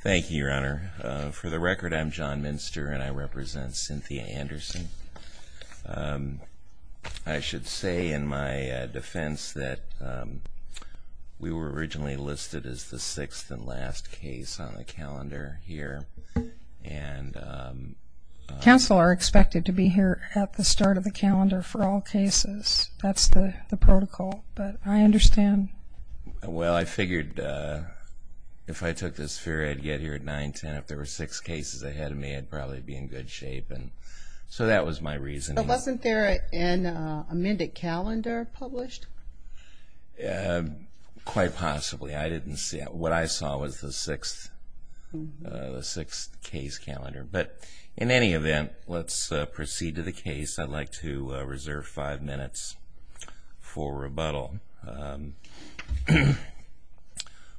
Thank you, Your Honor. For the record, I'm John Minster, and I represent Cynthia Anderson. I should say in my defense that we were originally listed as the sixth and last case on the calendar here. Counsel are expected to be here at the start of the calendar for all cases. That's the protocol, but I understand. Well, I figured if I took this fair, I'd get here at 9-10. If there were six cases ahead of me, I'd probably be in good shape. So that was my reasoning. But wasn't there an amended calendar published? Quite possibly. I didn't see it. What I saw was the sixth case calendar. But in any event, let's proceed to the case. I'd like to reserve five minutes for rebuttal.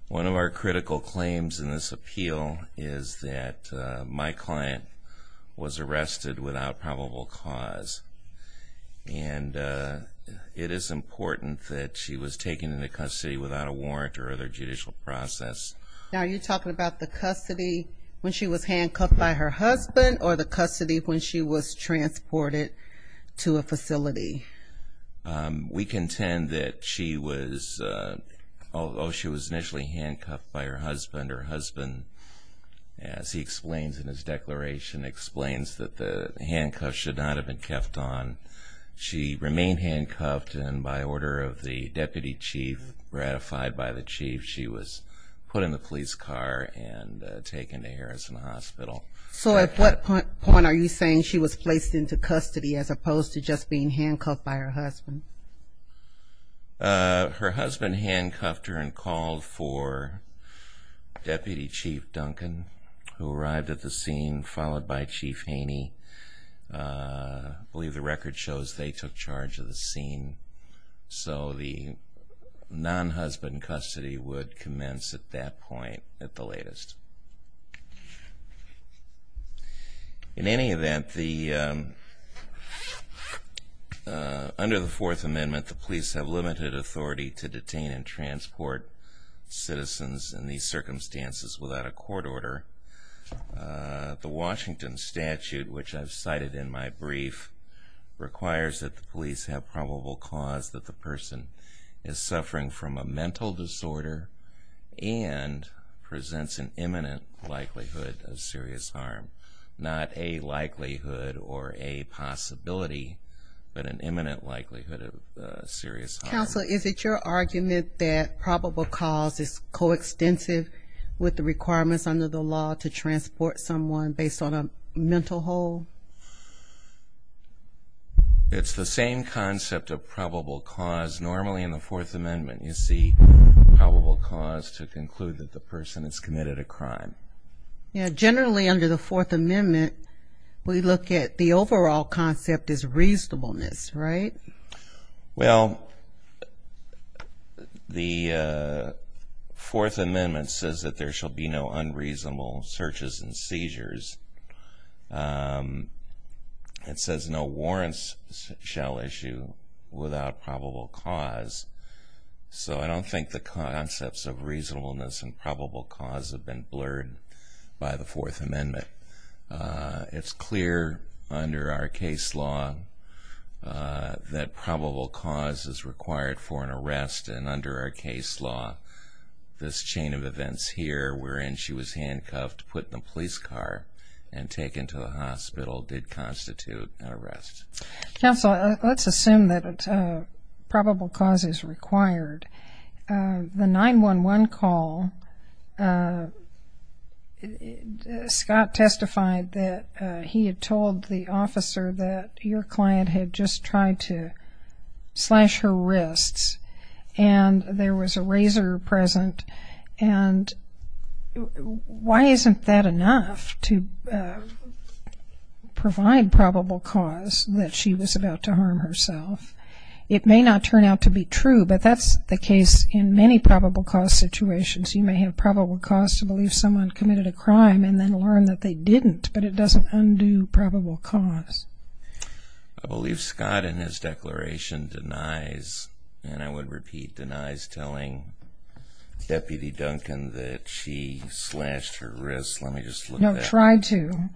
One of our critical claims in this appeal is that my client was arrested without probable cause. And it is important that she was taken into custody without a warrant or other judicial process. Now, are you talking about the custody when she was handcuffed by her husband or the custody when she was transported to a facility? We contend that she was initially handcuffed by her husband. Her husband, as he explains in his declaration, explains that the handcuffs should not have been kept on. She remained handcuffed, and by order of the deputy chief ratified by the chief, she was put in the police car and taken to Harrison Hospital. So at what point are you saying she was placed into custody as opposed to just being handcuffed by her husband? Her husband handcuffed her and called for Deputy Chief Duncan, who arrived at the scene, followed by Chief Haney. I believe the record shows they took charge of the scene. So the non-husband custody would commence at that point at the latest. In any event, under the Fourth Amendment, the police have limited authority to detain and transport citizens in these circumstances without a court order. The Washington Statute, which I've cited in my brief, requires that the police have probable cause that the person is suffering from a mental disorder and presents an imminent likelihood of serious harm. Not a likelihood or a possibility, but an imminent likelihood of serious harm. Counsel, is it your argument that probable cause is coextensive with the requirements under the law to transport someone based on a mental hole? It's the same concept of probable cause. Normally in the Fourth Amendment, you see probable cause to conclude that the person has committed a crime. Generally under the Fourth Amendment, we look at the overall concept as reasonableness, right? Well, the Fourth Amendment says that there shall be no unreasonable searches and seizures. It says no warrants shall issue without probable cause. So I don't think the concepts of reasonableness and probable cause have been blurred by the Fourth Amendment. It's clear under our case law that probable cause is required for an arrest, and under our case law, this chain of events here wherein she was handcuffed, put in a police car, and taken to the hospital did constitute an arrest. Counsel, let's assume that probable cause is required. The 911 call, Scott testified that he had told the officer that your client had just tried to slash her wrists, and there was a razor present, and why isn't that enough to provide probable cause that she was about to harm herself? It may not turn out to be true, but that's the case in many probable cause situations. You may have probable cause to believe someone committed a crime and then learn that they didn't, but it doesn't undo probable cause. I believe Scott in his declaration denies, and I would repeat, denies telling Deputy Duncan that she slashed her wrists. Let me just look that up. No, try to.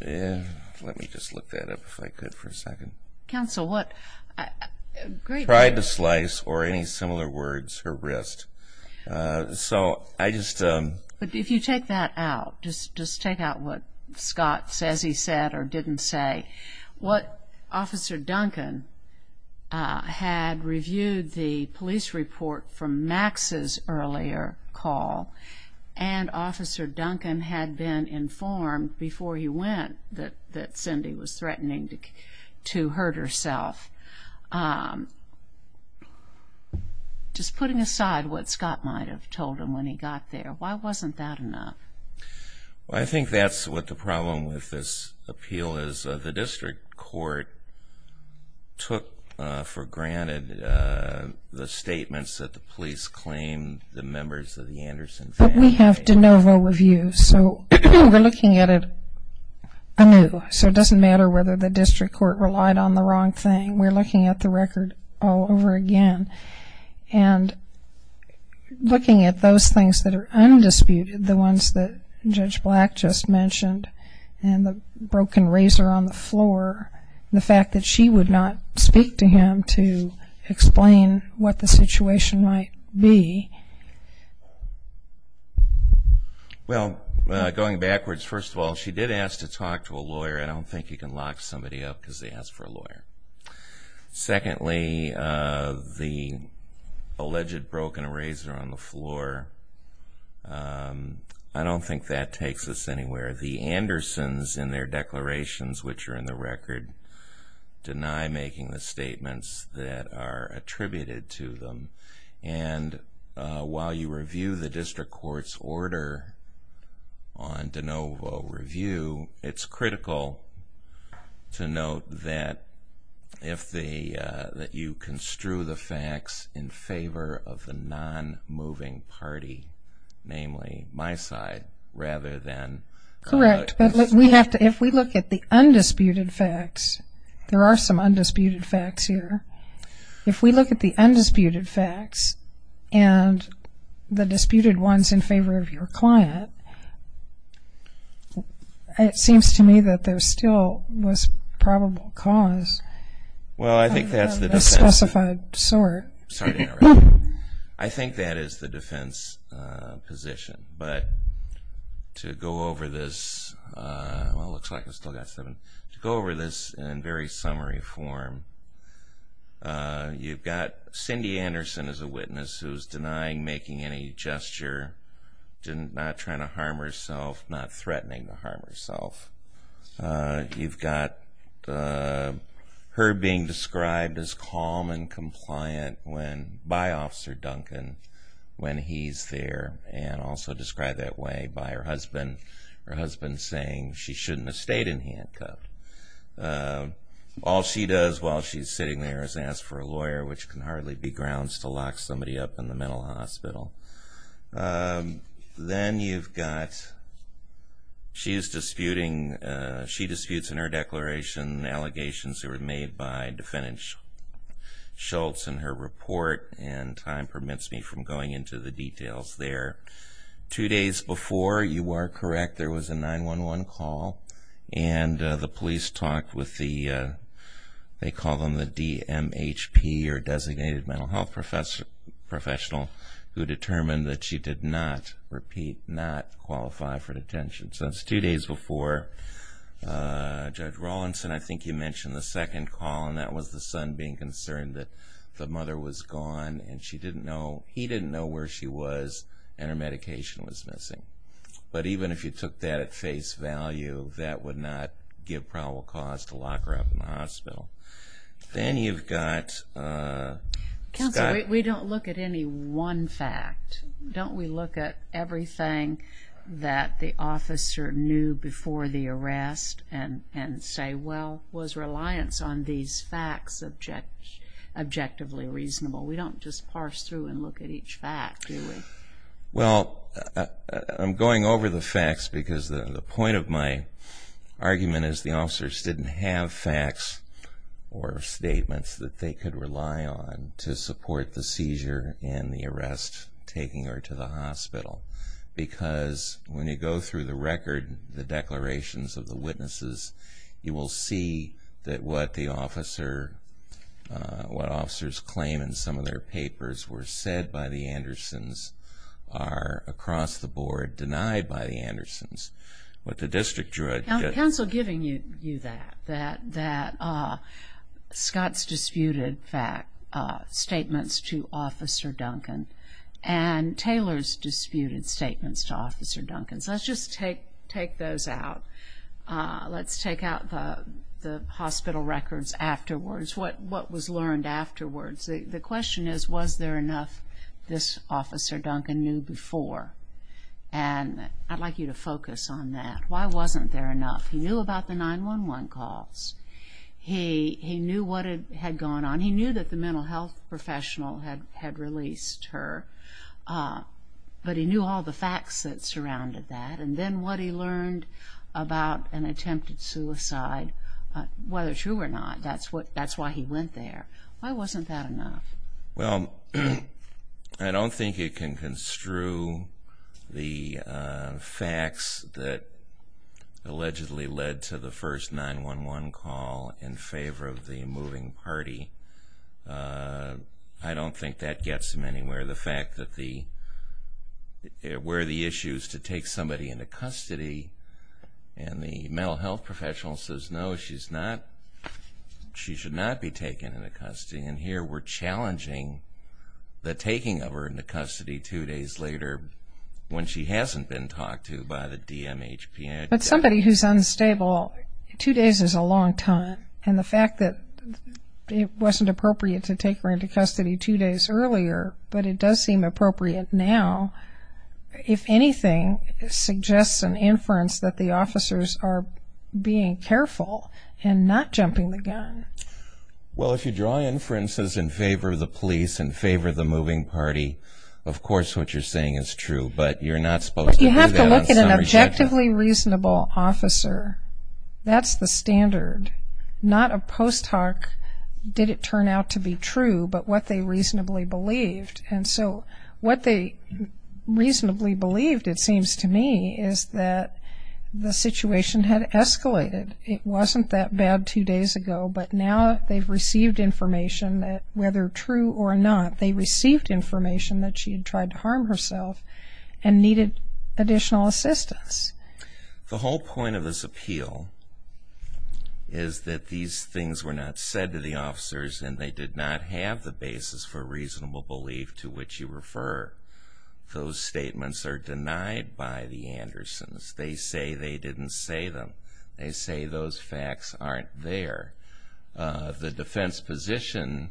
Let me just look that up if I could for a second. Counsel, what? Tried to slice, or any similar words, her wrist. So I just. But if you take that out, just take out what Scott says he said or didn't say, what Officer Duncan had reviewed the police report from Max's earlier call, and Officer Duncan had been informed before he went that Cindy was threatening to hurt herself. Just putting aside what Scott might have told him when he got there, why wasn't that enough? Well, I think that's what the problem with this appeal is. The district court took for granted the statements that the police claimed the members of the Anderson family. But we have de novo reviews, so we're looking at it anew. So it doesn't matter whether the district court relied on the wrong thing. We're looking at the record all over again, and looking at those things that are undisputed, the ones that Judge Black just mentioned, and the broken razor on the floor, and the fact that she would not speak to him to explain what the situation might be. Well, going backwards, first of all, she did ask to talk to a lawyer. I don't think you can lock somebody up because they asked for a lawyer. Secondly, the alleged broken razor on the floor, I don't think that takes us anywhere. The Andersons in their declarations, which are in the record, deny making the statements that are attributed to them. And while you review the district court's order on de novo review, it's critical to note that you construe the facts in favor of the non-moving party, namely my side, rather than... Correct, but if we look at the undisputed facts, there are some undisputed facts here. If we look at the undisputed facts and the disputed ones in favor of your client, it seems to me that there still was probable cause of the specified sort. Sorry to interrupt. I think that is the defense position. But to go over this in very summary form, you've got Cindy Anderson as a witness who is denying making any gesture, not trying to harm herself, not threatening to harm herself. You've got her being described as calm and compliant by Officer Duncan when he's there and also described that way by her husband. Her husband saying she shouldn't have stayed in handcuffs. All she does while she's sitting there is ask for a lawyer, which can hardly be grounds to lock somebody up in the mental hospital. Then you've got she is disputing... She disputes in her declaration allegations that were made by defendant Schultz in her report, and time permits me from going into the details there. Two days before, you are correct, there was a 911 call, and the police talked with the DMHP, or designated mental health professional, who determined that she did not, repeat, not qualify for detention. So that's two days before. Judge Rawlinson, I think you mentioned the second call, and that was the son being concerned that the mother was gone, and he didn't know where she was, and her medication was missing. But even if you took that at face value, that would not give probable cause to lock her up in the hospital. Then you've got Scott... Counsel, we don't look at any one fact. Don't we look at everything that the officer knew before the arrest and say, well, was reliance on these facts objectively reasonable? We don't just parse through and look at each fact, do we? Well, I'm going over the facts because the point of my argument is the officers didn't have facts or statements that they could rely on to support the seizure and the arrest taking her to the hospital. Because when you go through the record, the declarations of the witnesses, you will see that what the officer, what officers claim in some of their papers were said by the Andersons are across the board denied by the Andersons. What the district judge... Counsel, giving you that, that Scott's disputed fact, statements to Officer Duncan, and Taylor's disputed statements to Officer Duncan. Let's just take those out. Let's take out the hospital records afterwards, what was learned afterwards. The question is, was there enough this Officer Duncan knew before? I'd like you to focus on that. Why wasn't there enough? He knew about the 911 calls. He knew what had gone on. He knew that the mental health professional had released her, but he knew all the facts that surrounded that, and then what he learned about an attempted suicide. Whether true or not, that's why he went there. Why wasn't that enough? Well, I don't think you can construe the facts that allegedly led to the first 911 call in favor of the moving party. I don't think that gets him anywhere. The fact that where the issue is to take somebody into custody and the mental health professional says, no, she should not be taken into custody, and here we're challenging the taking of her into custody two days later when she hasn't been talked to by the DMHP. But somebody who's unstable, two days is a long time, and the fact that it wasn't appropriate to take her into custody two days earlier, but it does seem appropriate now, if anything suggests an inference that the officers are being careful and not jumping the gun. Well, if you draw inferences in favor of the police, in favor of the moving party, of course what you're saying is true, but you're not supposed to do that. You have to look at an objectively reasonable officer. That's the standard. Not a post hoc did it turn out to be true, but what they reasonably believed. And so what they reasonably believed, it seems to me, is that the situation had escalated. It wasn't that bad two days ago, but now they've received information that whether true or not, they received information that she had tried to harm herself and needed additional assistance. The whole point of this appeal is that these things were not said to the officers and they did not have the basis for reasonable belief to which you refer. Those statements are denied by the Andersons. They say they didn't say them. They say those facts aren't there. The defense position,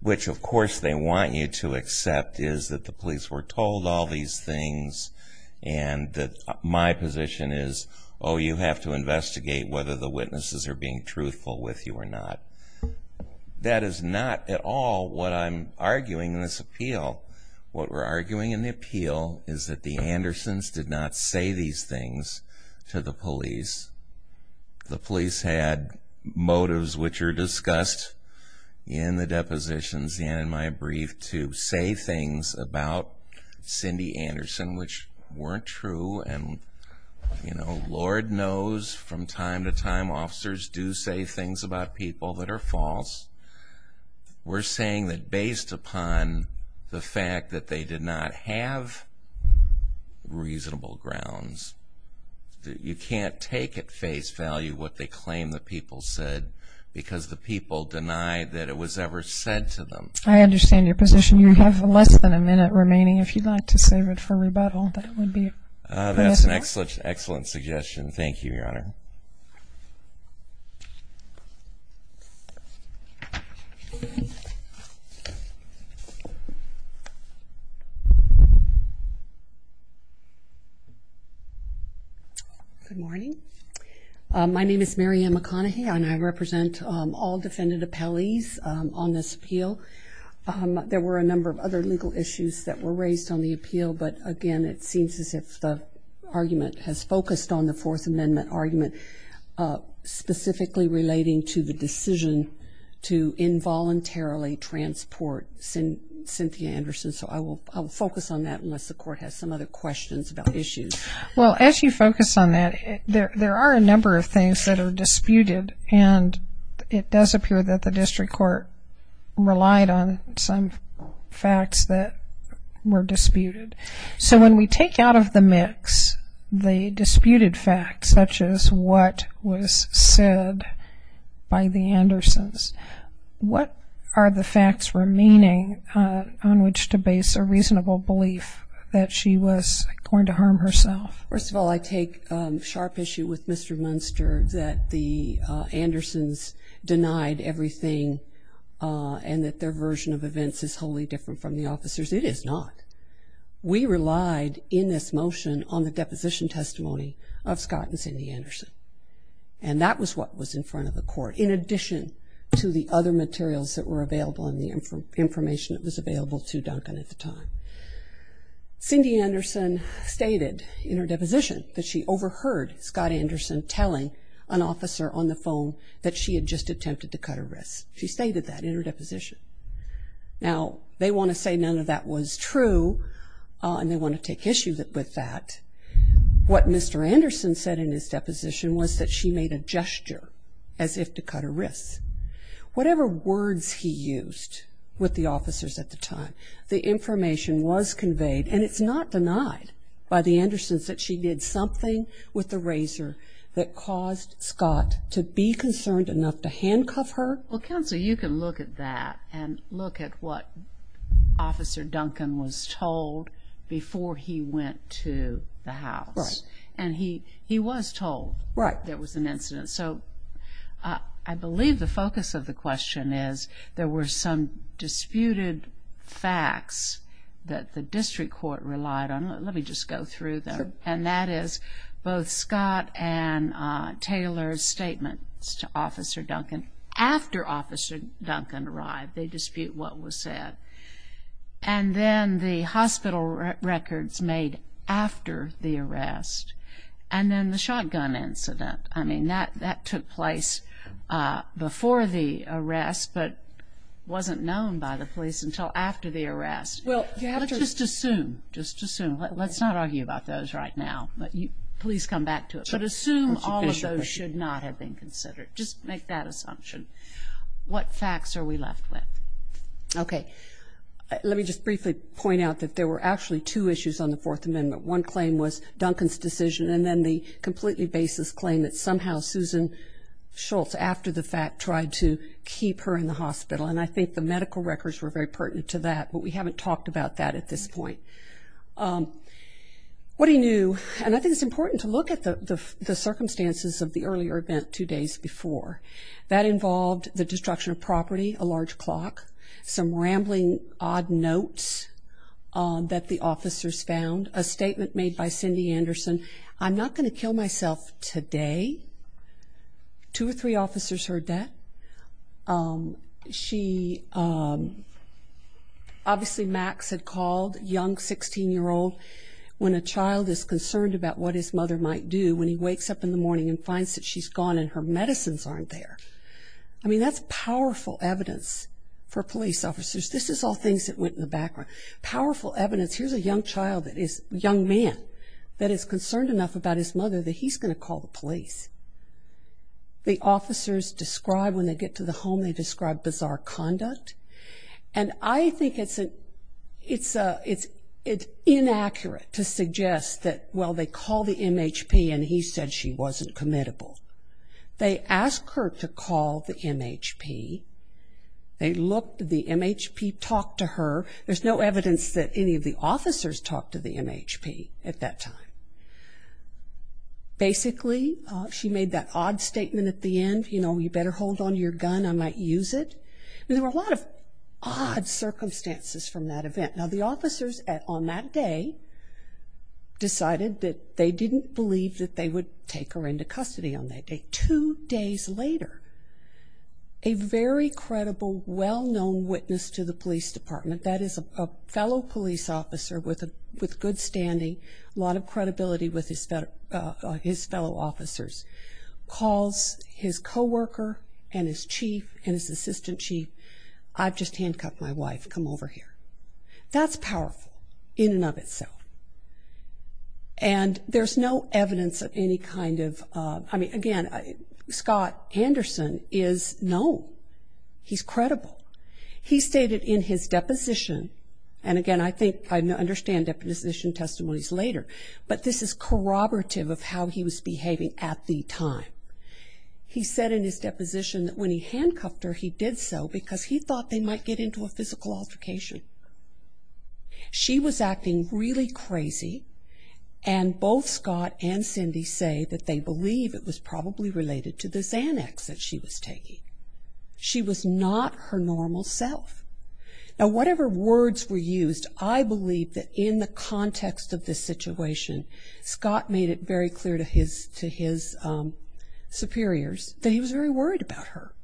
which of course they want you to accept, is that the police were told all these things, and that my position is, oh, you have to investigate whether the witnesses are being truthful with you or not. That is not at all what I'm arguing in this appeal. What we're arguing in the appeal is that the Andersons did not say these things to the police. The police had motives which are discussed in the depositions and in my brief to say things about Cindy Anderson which weren't true. Lord knows from time to time officers do say things about people that are false. We're saying that based upon the fact that they did not have reasonable grounds, you can't take at face value what they claim the people said because the people denied that it was ever said to them. I understand your position. You have less than a minute remaining. If you'd like to save it for rebuttal, that would be permissible. That's an excellent suggestion. Thank you, Your Honor. Good morning. My name is Mary Ann McConaughey, and I represent all defendant appellees on this appeal. There were a number of other legal issues that were raised on the appeal, but again it seems as if the argument has focused on the Fourth Amendment argument specifically relating to the decision to involuntarily transport Cynthia Anderson. So I will focus on that unless the court has some other questions about issues. Well, as you focus on that, there are a number of things that are disputed, and it does appear that the district court relied on some facts that were disputed. So when we take out of the mix the disputed facts, such as what was said by the Andersons, what are the facts remaining on which to base a reasonable belief that she was going to harm herself? First of all, I take sharp issue with Mr. Munster that the Andersons denied everything and that their version of events is wholly different from the officer's. It is not. We relied in this motion on the deposition testimony of Scott and Cindy Anderson, and that was what was in front of the court, in addition to the other materials that were available and the information that was available to Duncan at the time. Cindy Anderson stated in her deposition that she overheard Scott Anderson telling an officer on the phone that she had just attempted to cut her wrists. She stated that in her deposition. Now, they want to say none of that was true, and they want to take issue with that. What Mr. Anderson said in his deposition was that she made a gesture as if to cut her wrists. Whatever words he used with the officers at the time, the information was conveyed, and it's not denied by the Andersons that she did something with the razor that caused Scott to be concerned enough to handcuff her. Well, Counsel, you can look at that and look at what Officer Duncan was told before he went to the house. Right. And he was told there was an incident. So I believe the focus of the question is there were some disputed facts that the district court relied on. Let me just go through them, and that is both Scott and Taylor's statements to Officer Duncan. After Officer Duncan arrived, they dispute what was said. And then the hospital records made after the arrest, and then the shotgun incident. I mean, that took place before the arrest but wasn't known by the police until after the arrest. Well, you have to just assume, just assume. Let's not argue about those right now, but please come back to it. But assume all of those should not have been considered. Just make that assumption. What facts are we left with? Okay. Let me just briefly point out that there were actually two issues on the Fourth Amendment. One claim was Duncan's decision, and then the completely baseless claim that somehow Susan Schultz, after the fact, tried to keep her in the hospital. And I think the medical records were very pertinent to that, but we haven't talked about that at this point. What he knew, and I think it's important to look at the circumstances of the earlier event two days before. That involved the destruction of property, a large clock, some rambling odd notes that the officers found, a statement made by Cindy Anderson, I'm not going to kill myself today. Two or three officers heard that. She, obviously Max had called, young 16-year-old, when a child is concerned about what his mother might do when he wakes up in the morning and finds that she's gone and her medicines aren't there. I mean, that's powerful evidence for police officers. This is all things that went in the background. Powerful evidence. Here's a young man that is concerned enough about his mother that he's going to call the police. The officers describe, when they get to the home, they describe bizarre conduct. And I think it's inaccurate to suggest that, well, they called the MHP and he said she wasn't committable. They asked her to call the MHP. They looked at the MHP, talked to her. There's no evidence that any of the officers talked to the MHP at that time. Basically, she made that odd statement at the end, you know, you better hold on to your gun, I might use it. I mean, there were a lot of odd circumstances from that event. Now, the officers on that day decided that they didn't believe that they would take her into custody on that day. Two days later, a very credible, well-known witness to the police department, that is a fellow police officer with good standing, a lot of credibility with his fellow officers, calls his co-worker and his chief and his assistant chief, I've just handcuffed my wife, come over here. That's powerful in and of itself. And there's no evidence of any kind of, I mean, again, Scott Anderson is known. He's credible. He stated in his deposition, and again, I think I understand deposition testimonies later, but this is corroborative of how he was behaving at the time. He said in his deposition that when he handcuffed her, he did so because he thought they might get into a physical altercation. She was acting really crazy, and both Scott and Cindy say that they believe it was probably related to this annex that she was taking. She was not her normal self. Now, whatever words were used, I believe that in the context of this situation, Scott made it very clear to his superiors that he was very worried about her.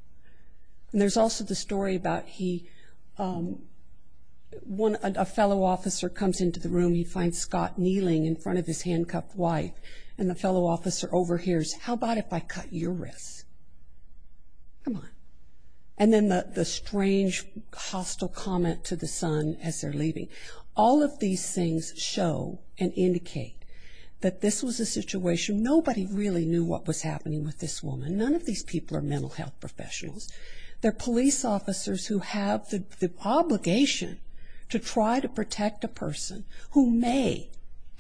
And there's also the story about he, when a fellow officer comes into the room, he finds Scott kneeling in front of his handcuffed wife, and the fellow officer overhears, how about if I cut your wrists? Come on. And then the strange, hostile comment to the son as they're leaving. All of these things show and indicate that this was a situation, nobody really knew what was happening with this woman. None of these people are mental health professionals. They're police officers who have the obligation to try to protect a person who may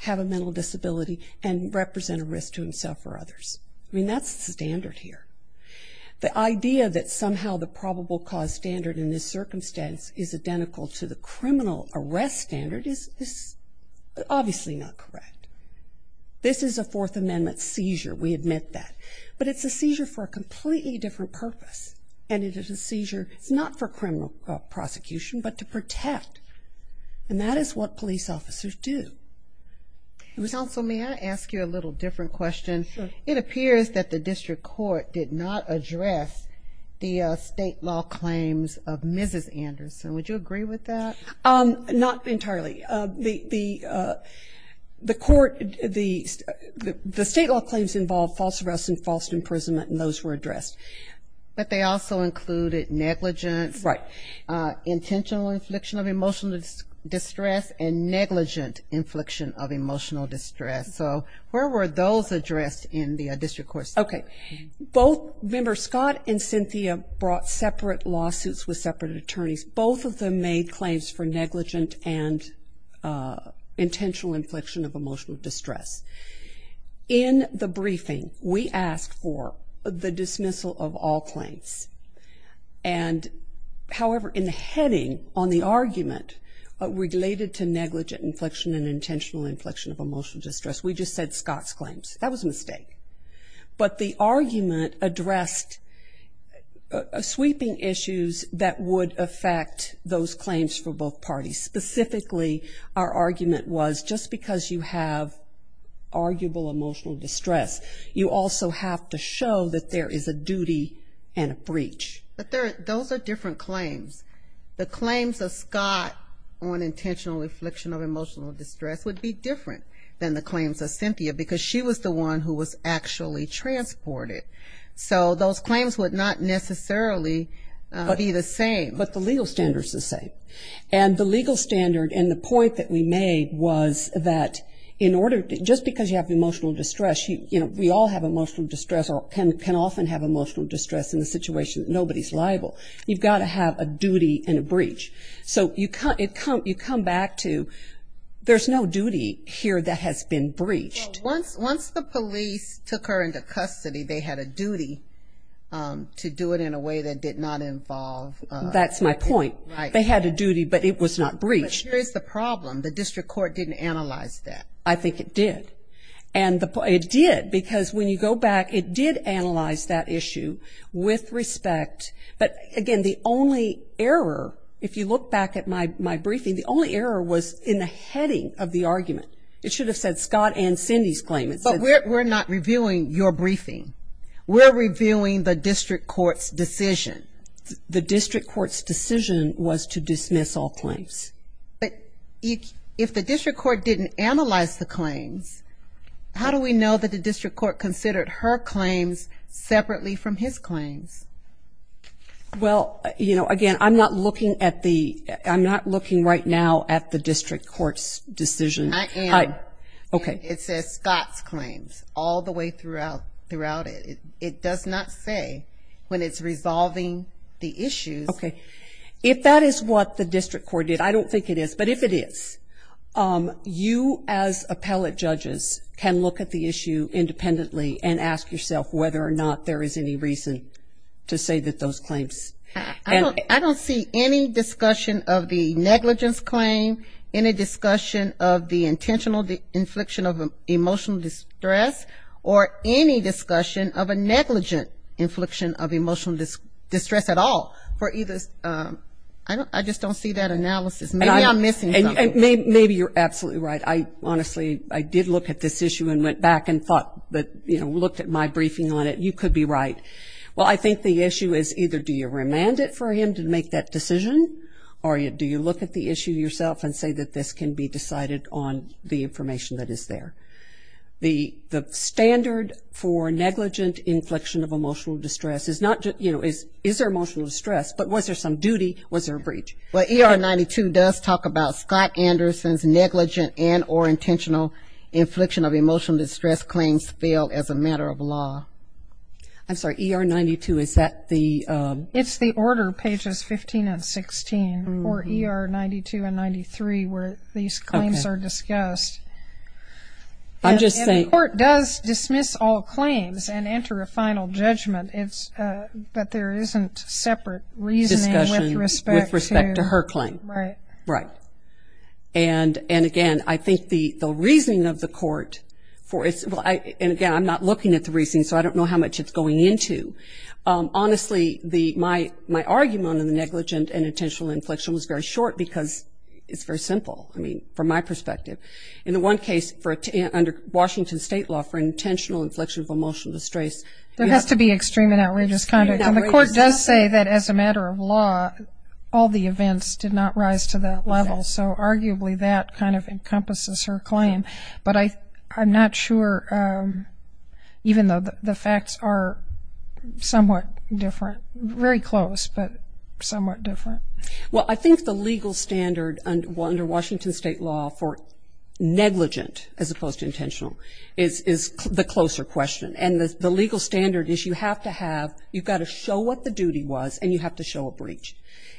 have a mental disability and represent a risk to himself or others. I mean, that's the standard here. The idea that somehow the probable cause standard in this circumstance is identical to the criminal arrest standard is obviously not correct. This is a Fourth Amendment seizure, we admit that. But it's a seizure for a completely different purpose. And it is a seizure, it's not for criminal prosecution, but to protect. And that is what police officers do. Counsel, may I ask you a little different question? It appears that the district court did not address the state law claims of Mrs. Anderson. Would you agree with that? Not entirely. The court, the state law claims involved false arrest and false imprisonment, and those were addressed. But they also included negligence. Right. Intentional infliction of emotional distress and negligent infliction of emotional distress. So where were those addressed in the district court? Okay. Both, remember, Scott and Cynthia brought separate lawsuits with separate attorneys. Both of them made claims for negligent and intentional infliction of emotional distress. In the briefing, we asked for the dismissal of all claims. And, however, in the heading on the argument related to negligent infliction and intentional infliction of emotional distress, we just said Scott's claims. That was a mistake. But the argument addressed sweeping issues that would affect those claims for both parties. Specifically, our argument was just because you have arguable emotional distress, you also have to show that there is a duty and a breach. But those are different claims. The claims of Scott on intentional infliction of emotional distress would be different than the claims of Cynthia because she was the one who was actually transported. So those claims would not necessarily be the same. But the legal standard is the same. And the legal standard and the point that we made was that in order to just because you have emotional distress, you know, we all have emotional distress or can often have emotional distress in the situation that nobody's liable. You've got to have a duty and a breach. So you come back to there's no duty here that has been breached. Once the police took her into custody, they had a duty to do it in a way that did not involve. That's my point. Right. They had a duty, but it was not breached. But here's the problem. The district court didn't analyze that. I think it did. And it did because when you go back, it did analyze that issue with respect. But, again, the only error, if you look back at my briefing, the only error was in the heading of the argument. It should have said Scott and Cindy's claim. But we're not reviewing your briefing. We're reviewing the district court's decision. The district court's decision was to dismiss all claims. But if the district court didn't analyze the claims, how do we know that the district court considered her claims separately from his claims? Well, again, I'm not looking right now at the district court's decision. I am. Okay. It says Scott's claims all the way throughout it. It does not say when it's resolving the issues. Okay. If that is what the district court did, I don't think it is, but if it is, you as appellate judges can look at the issue independently and ask yourself whether or not there is any reason to say that those claims. I don't see any discussion of the negligence claim, any discussion of the intentional infliction of emotional distress, or any discussion of a negligent infliction of emotional distress at all. I just don't see that analysis. Maybe I'm missing something. Maybe you're absolutely right. Honestly, I did look at this issue and went back and thought, you know, looked at my briefing on it. You could be right. Well, I think the issue is either do you remand it for him to make that decision, or do you look at the issue yourself and say that this can be decided on the information that is there. The standard for negligent inflection of emotional distress is not just, you know, is there emotional distress, but was there some duty, was there a breach? Well, ER 92 does talk about Scott Anderson's negligent and or intentional infliction of emotional distress claims failed as a matter of law. I'm sorry, ER 92, is that the? It's the order, pages 15 and 16, or ER 92 and 93, where these claims are discussed. I'm just saying. And the court does dismiss all claims and enter a final judgment, but there isn't separate reasoning with respect to. Discussion with respect to her claim. Right. Right. And, again, I think the reasoning of the court, and, again, I'm not looking at the reasoning, so I don't know how much it's going into. Honestly, my argument on the negligent and intentional inflection was very short because it's very simple, I mean, from my perspective. In the one case under Washington State law for intentional inflection of emotional distress. There has to be extreme and outrageous conduct, and the court does say that as a matter of law all the events did not rise to that level, so arguably that kind of encompasses her claim. But I'm not sure, even though the facts are somewhat different, very close, but somewhat different. Well, I think the legal standard under Washington State law for negligent as opposed to intentional is the closer question, and the legal standard is you have to have, you've got to show what the duty was and you have to show a breach.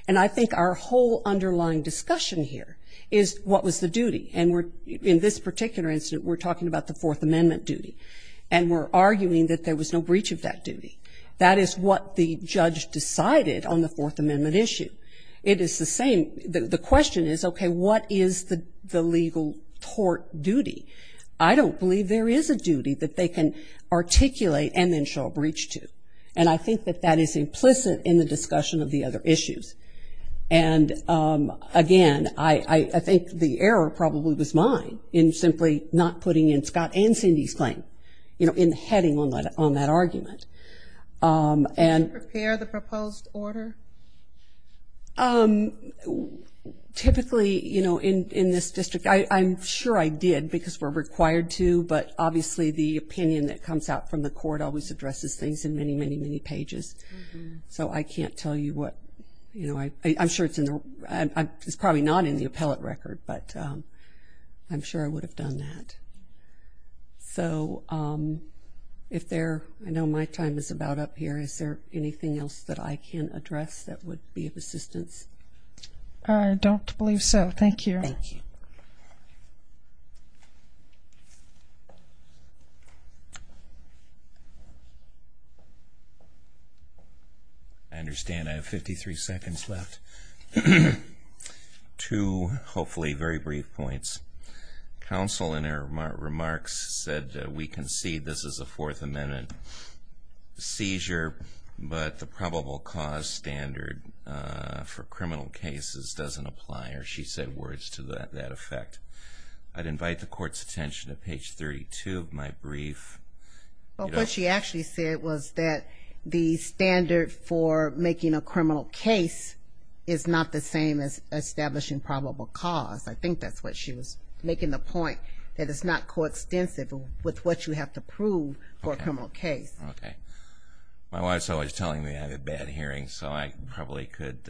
And I think our whole underlying discussion here is what was the duty, and in this particular incident we're talking about the Fourth Amendment duty, and we're arguing that there was no breach of that duty. That is what the judge decided on the Fourth Amendment issue. It is the same. The question is, okay, what is the legal tort duty? I don't believe there is a duty that they can articulate and then show a breach to, and I think that that is implicit in the discussion of the other issues. And, again, I think the error probably was mine in simply not putting in Scott and Cindy's claim, you know, in heading on that argument. Did you prepare the proposed order? Typically, you know, in this district, I'm sure I did because we're required to, but obviously the opinion that comes out from the court always addresses things in many, many, many pages. So I can't tell you what, you know, I'm sure it's probably not in the appellate record, but I'm sure I would have done that. So if there, I know my time is about up here. Is there anything else that I can address that would be of assistance? I don't believe so. Thank you. Thank you. I understand I have 53 seconds left. Two, hopefully, very brief points. Counsel, in her remarks, said that we concede this is a Fourth Amendment seizure, but the probable cause standard for criminal cases doesn't apply, or she said words to that effect. I'd invite the Court's attention to page 32 of my brief. What she actually said was that the standard for making a criminal case is not the same as establishing probable cause. I think that's what she was making the point, that it's not coextensive with what you have to prove for a criminal case. Okay. My wife's always telling me I have a bad hearing, so I probably could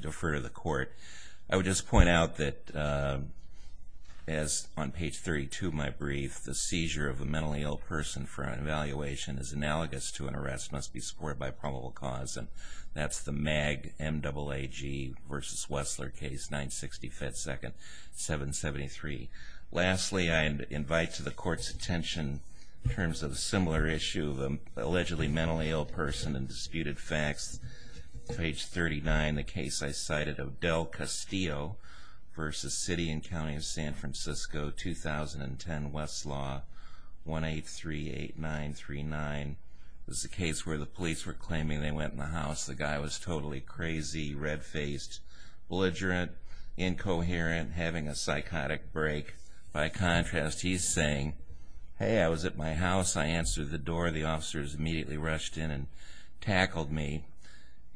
defer to the Court. I would just point out that, as on page 32 of my brief, the seizure of a mentally ill person for an evaluation is analogous to an arrest that must be supported by a probable cause, and that's the MAG, M-double-A-G, versus Wessler case, 960 FedSecond, 773. Lastly, I invite to the Court's attention, in terms of a similar issue, an allegedly mentally ill person and disputed facts, page 39, the case I cited of Del Castillo versus City and County of San Francisco, 2010, Westlaw, 1838939. This is a case where the police were claiming they went in the house. The guy was totally crazy, red-faced, belligerent, incoherent, having a psychotic break. By contrast, he's saying, hey, I was at my house, I answered the door, the officers immediately rushed in and tackled me,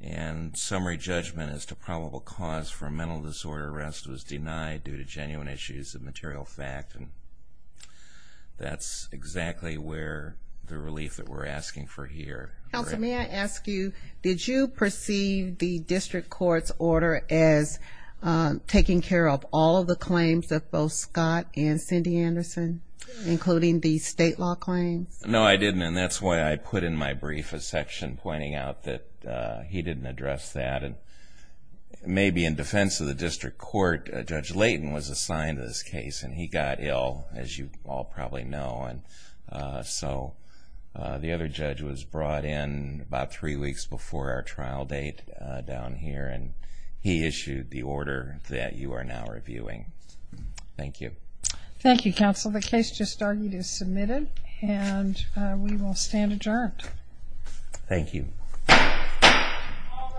and summary judgment as to probable cause for a mental disorder arrest was denied due to genuine issues of material fact. That's exactly the relief that we're asking for here. Counsel, may I ask you, did you perceive the district court's order as taking care of all of the claims of both Scott and Cindy Anderson, including the state law claims? No, I didn't, and that's why I put in my brief a section pointing out that he didn't address that. Maybe in defense of the district court, Judge Layton was assigned to this case, and he got ill, as you all probably know. So the other judge was brought in about three weeks before our trial date down here, and he issued the order that you are now reviewing. Thank you. Thank you, Counsel. The case just argued is submitted, and we will stand adjourned. Thank you. All rise.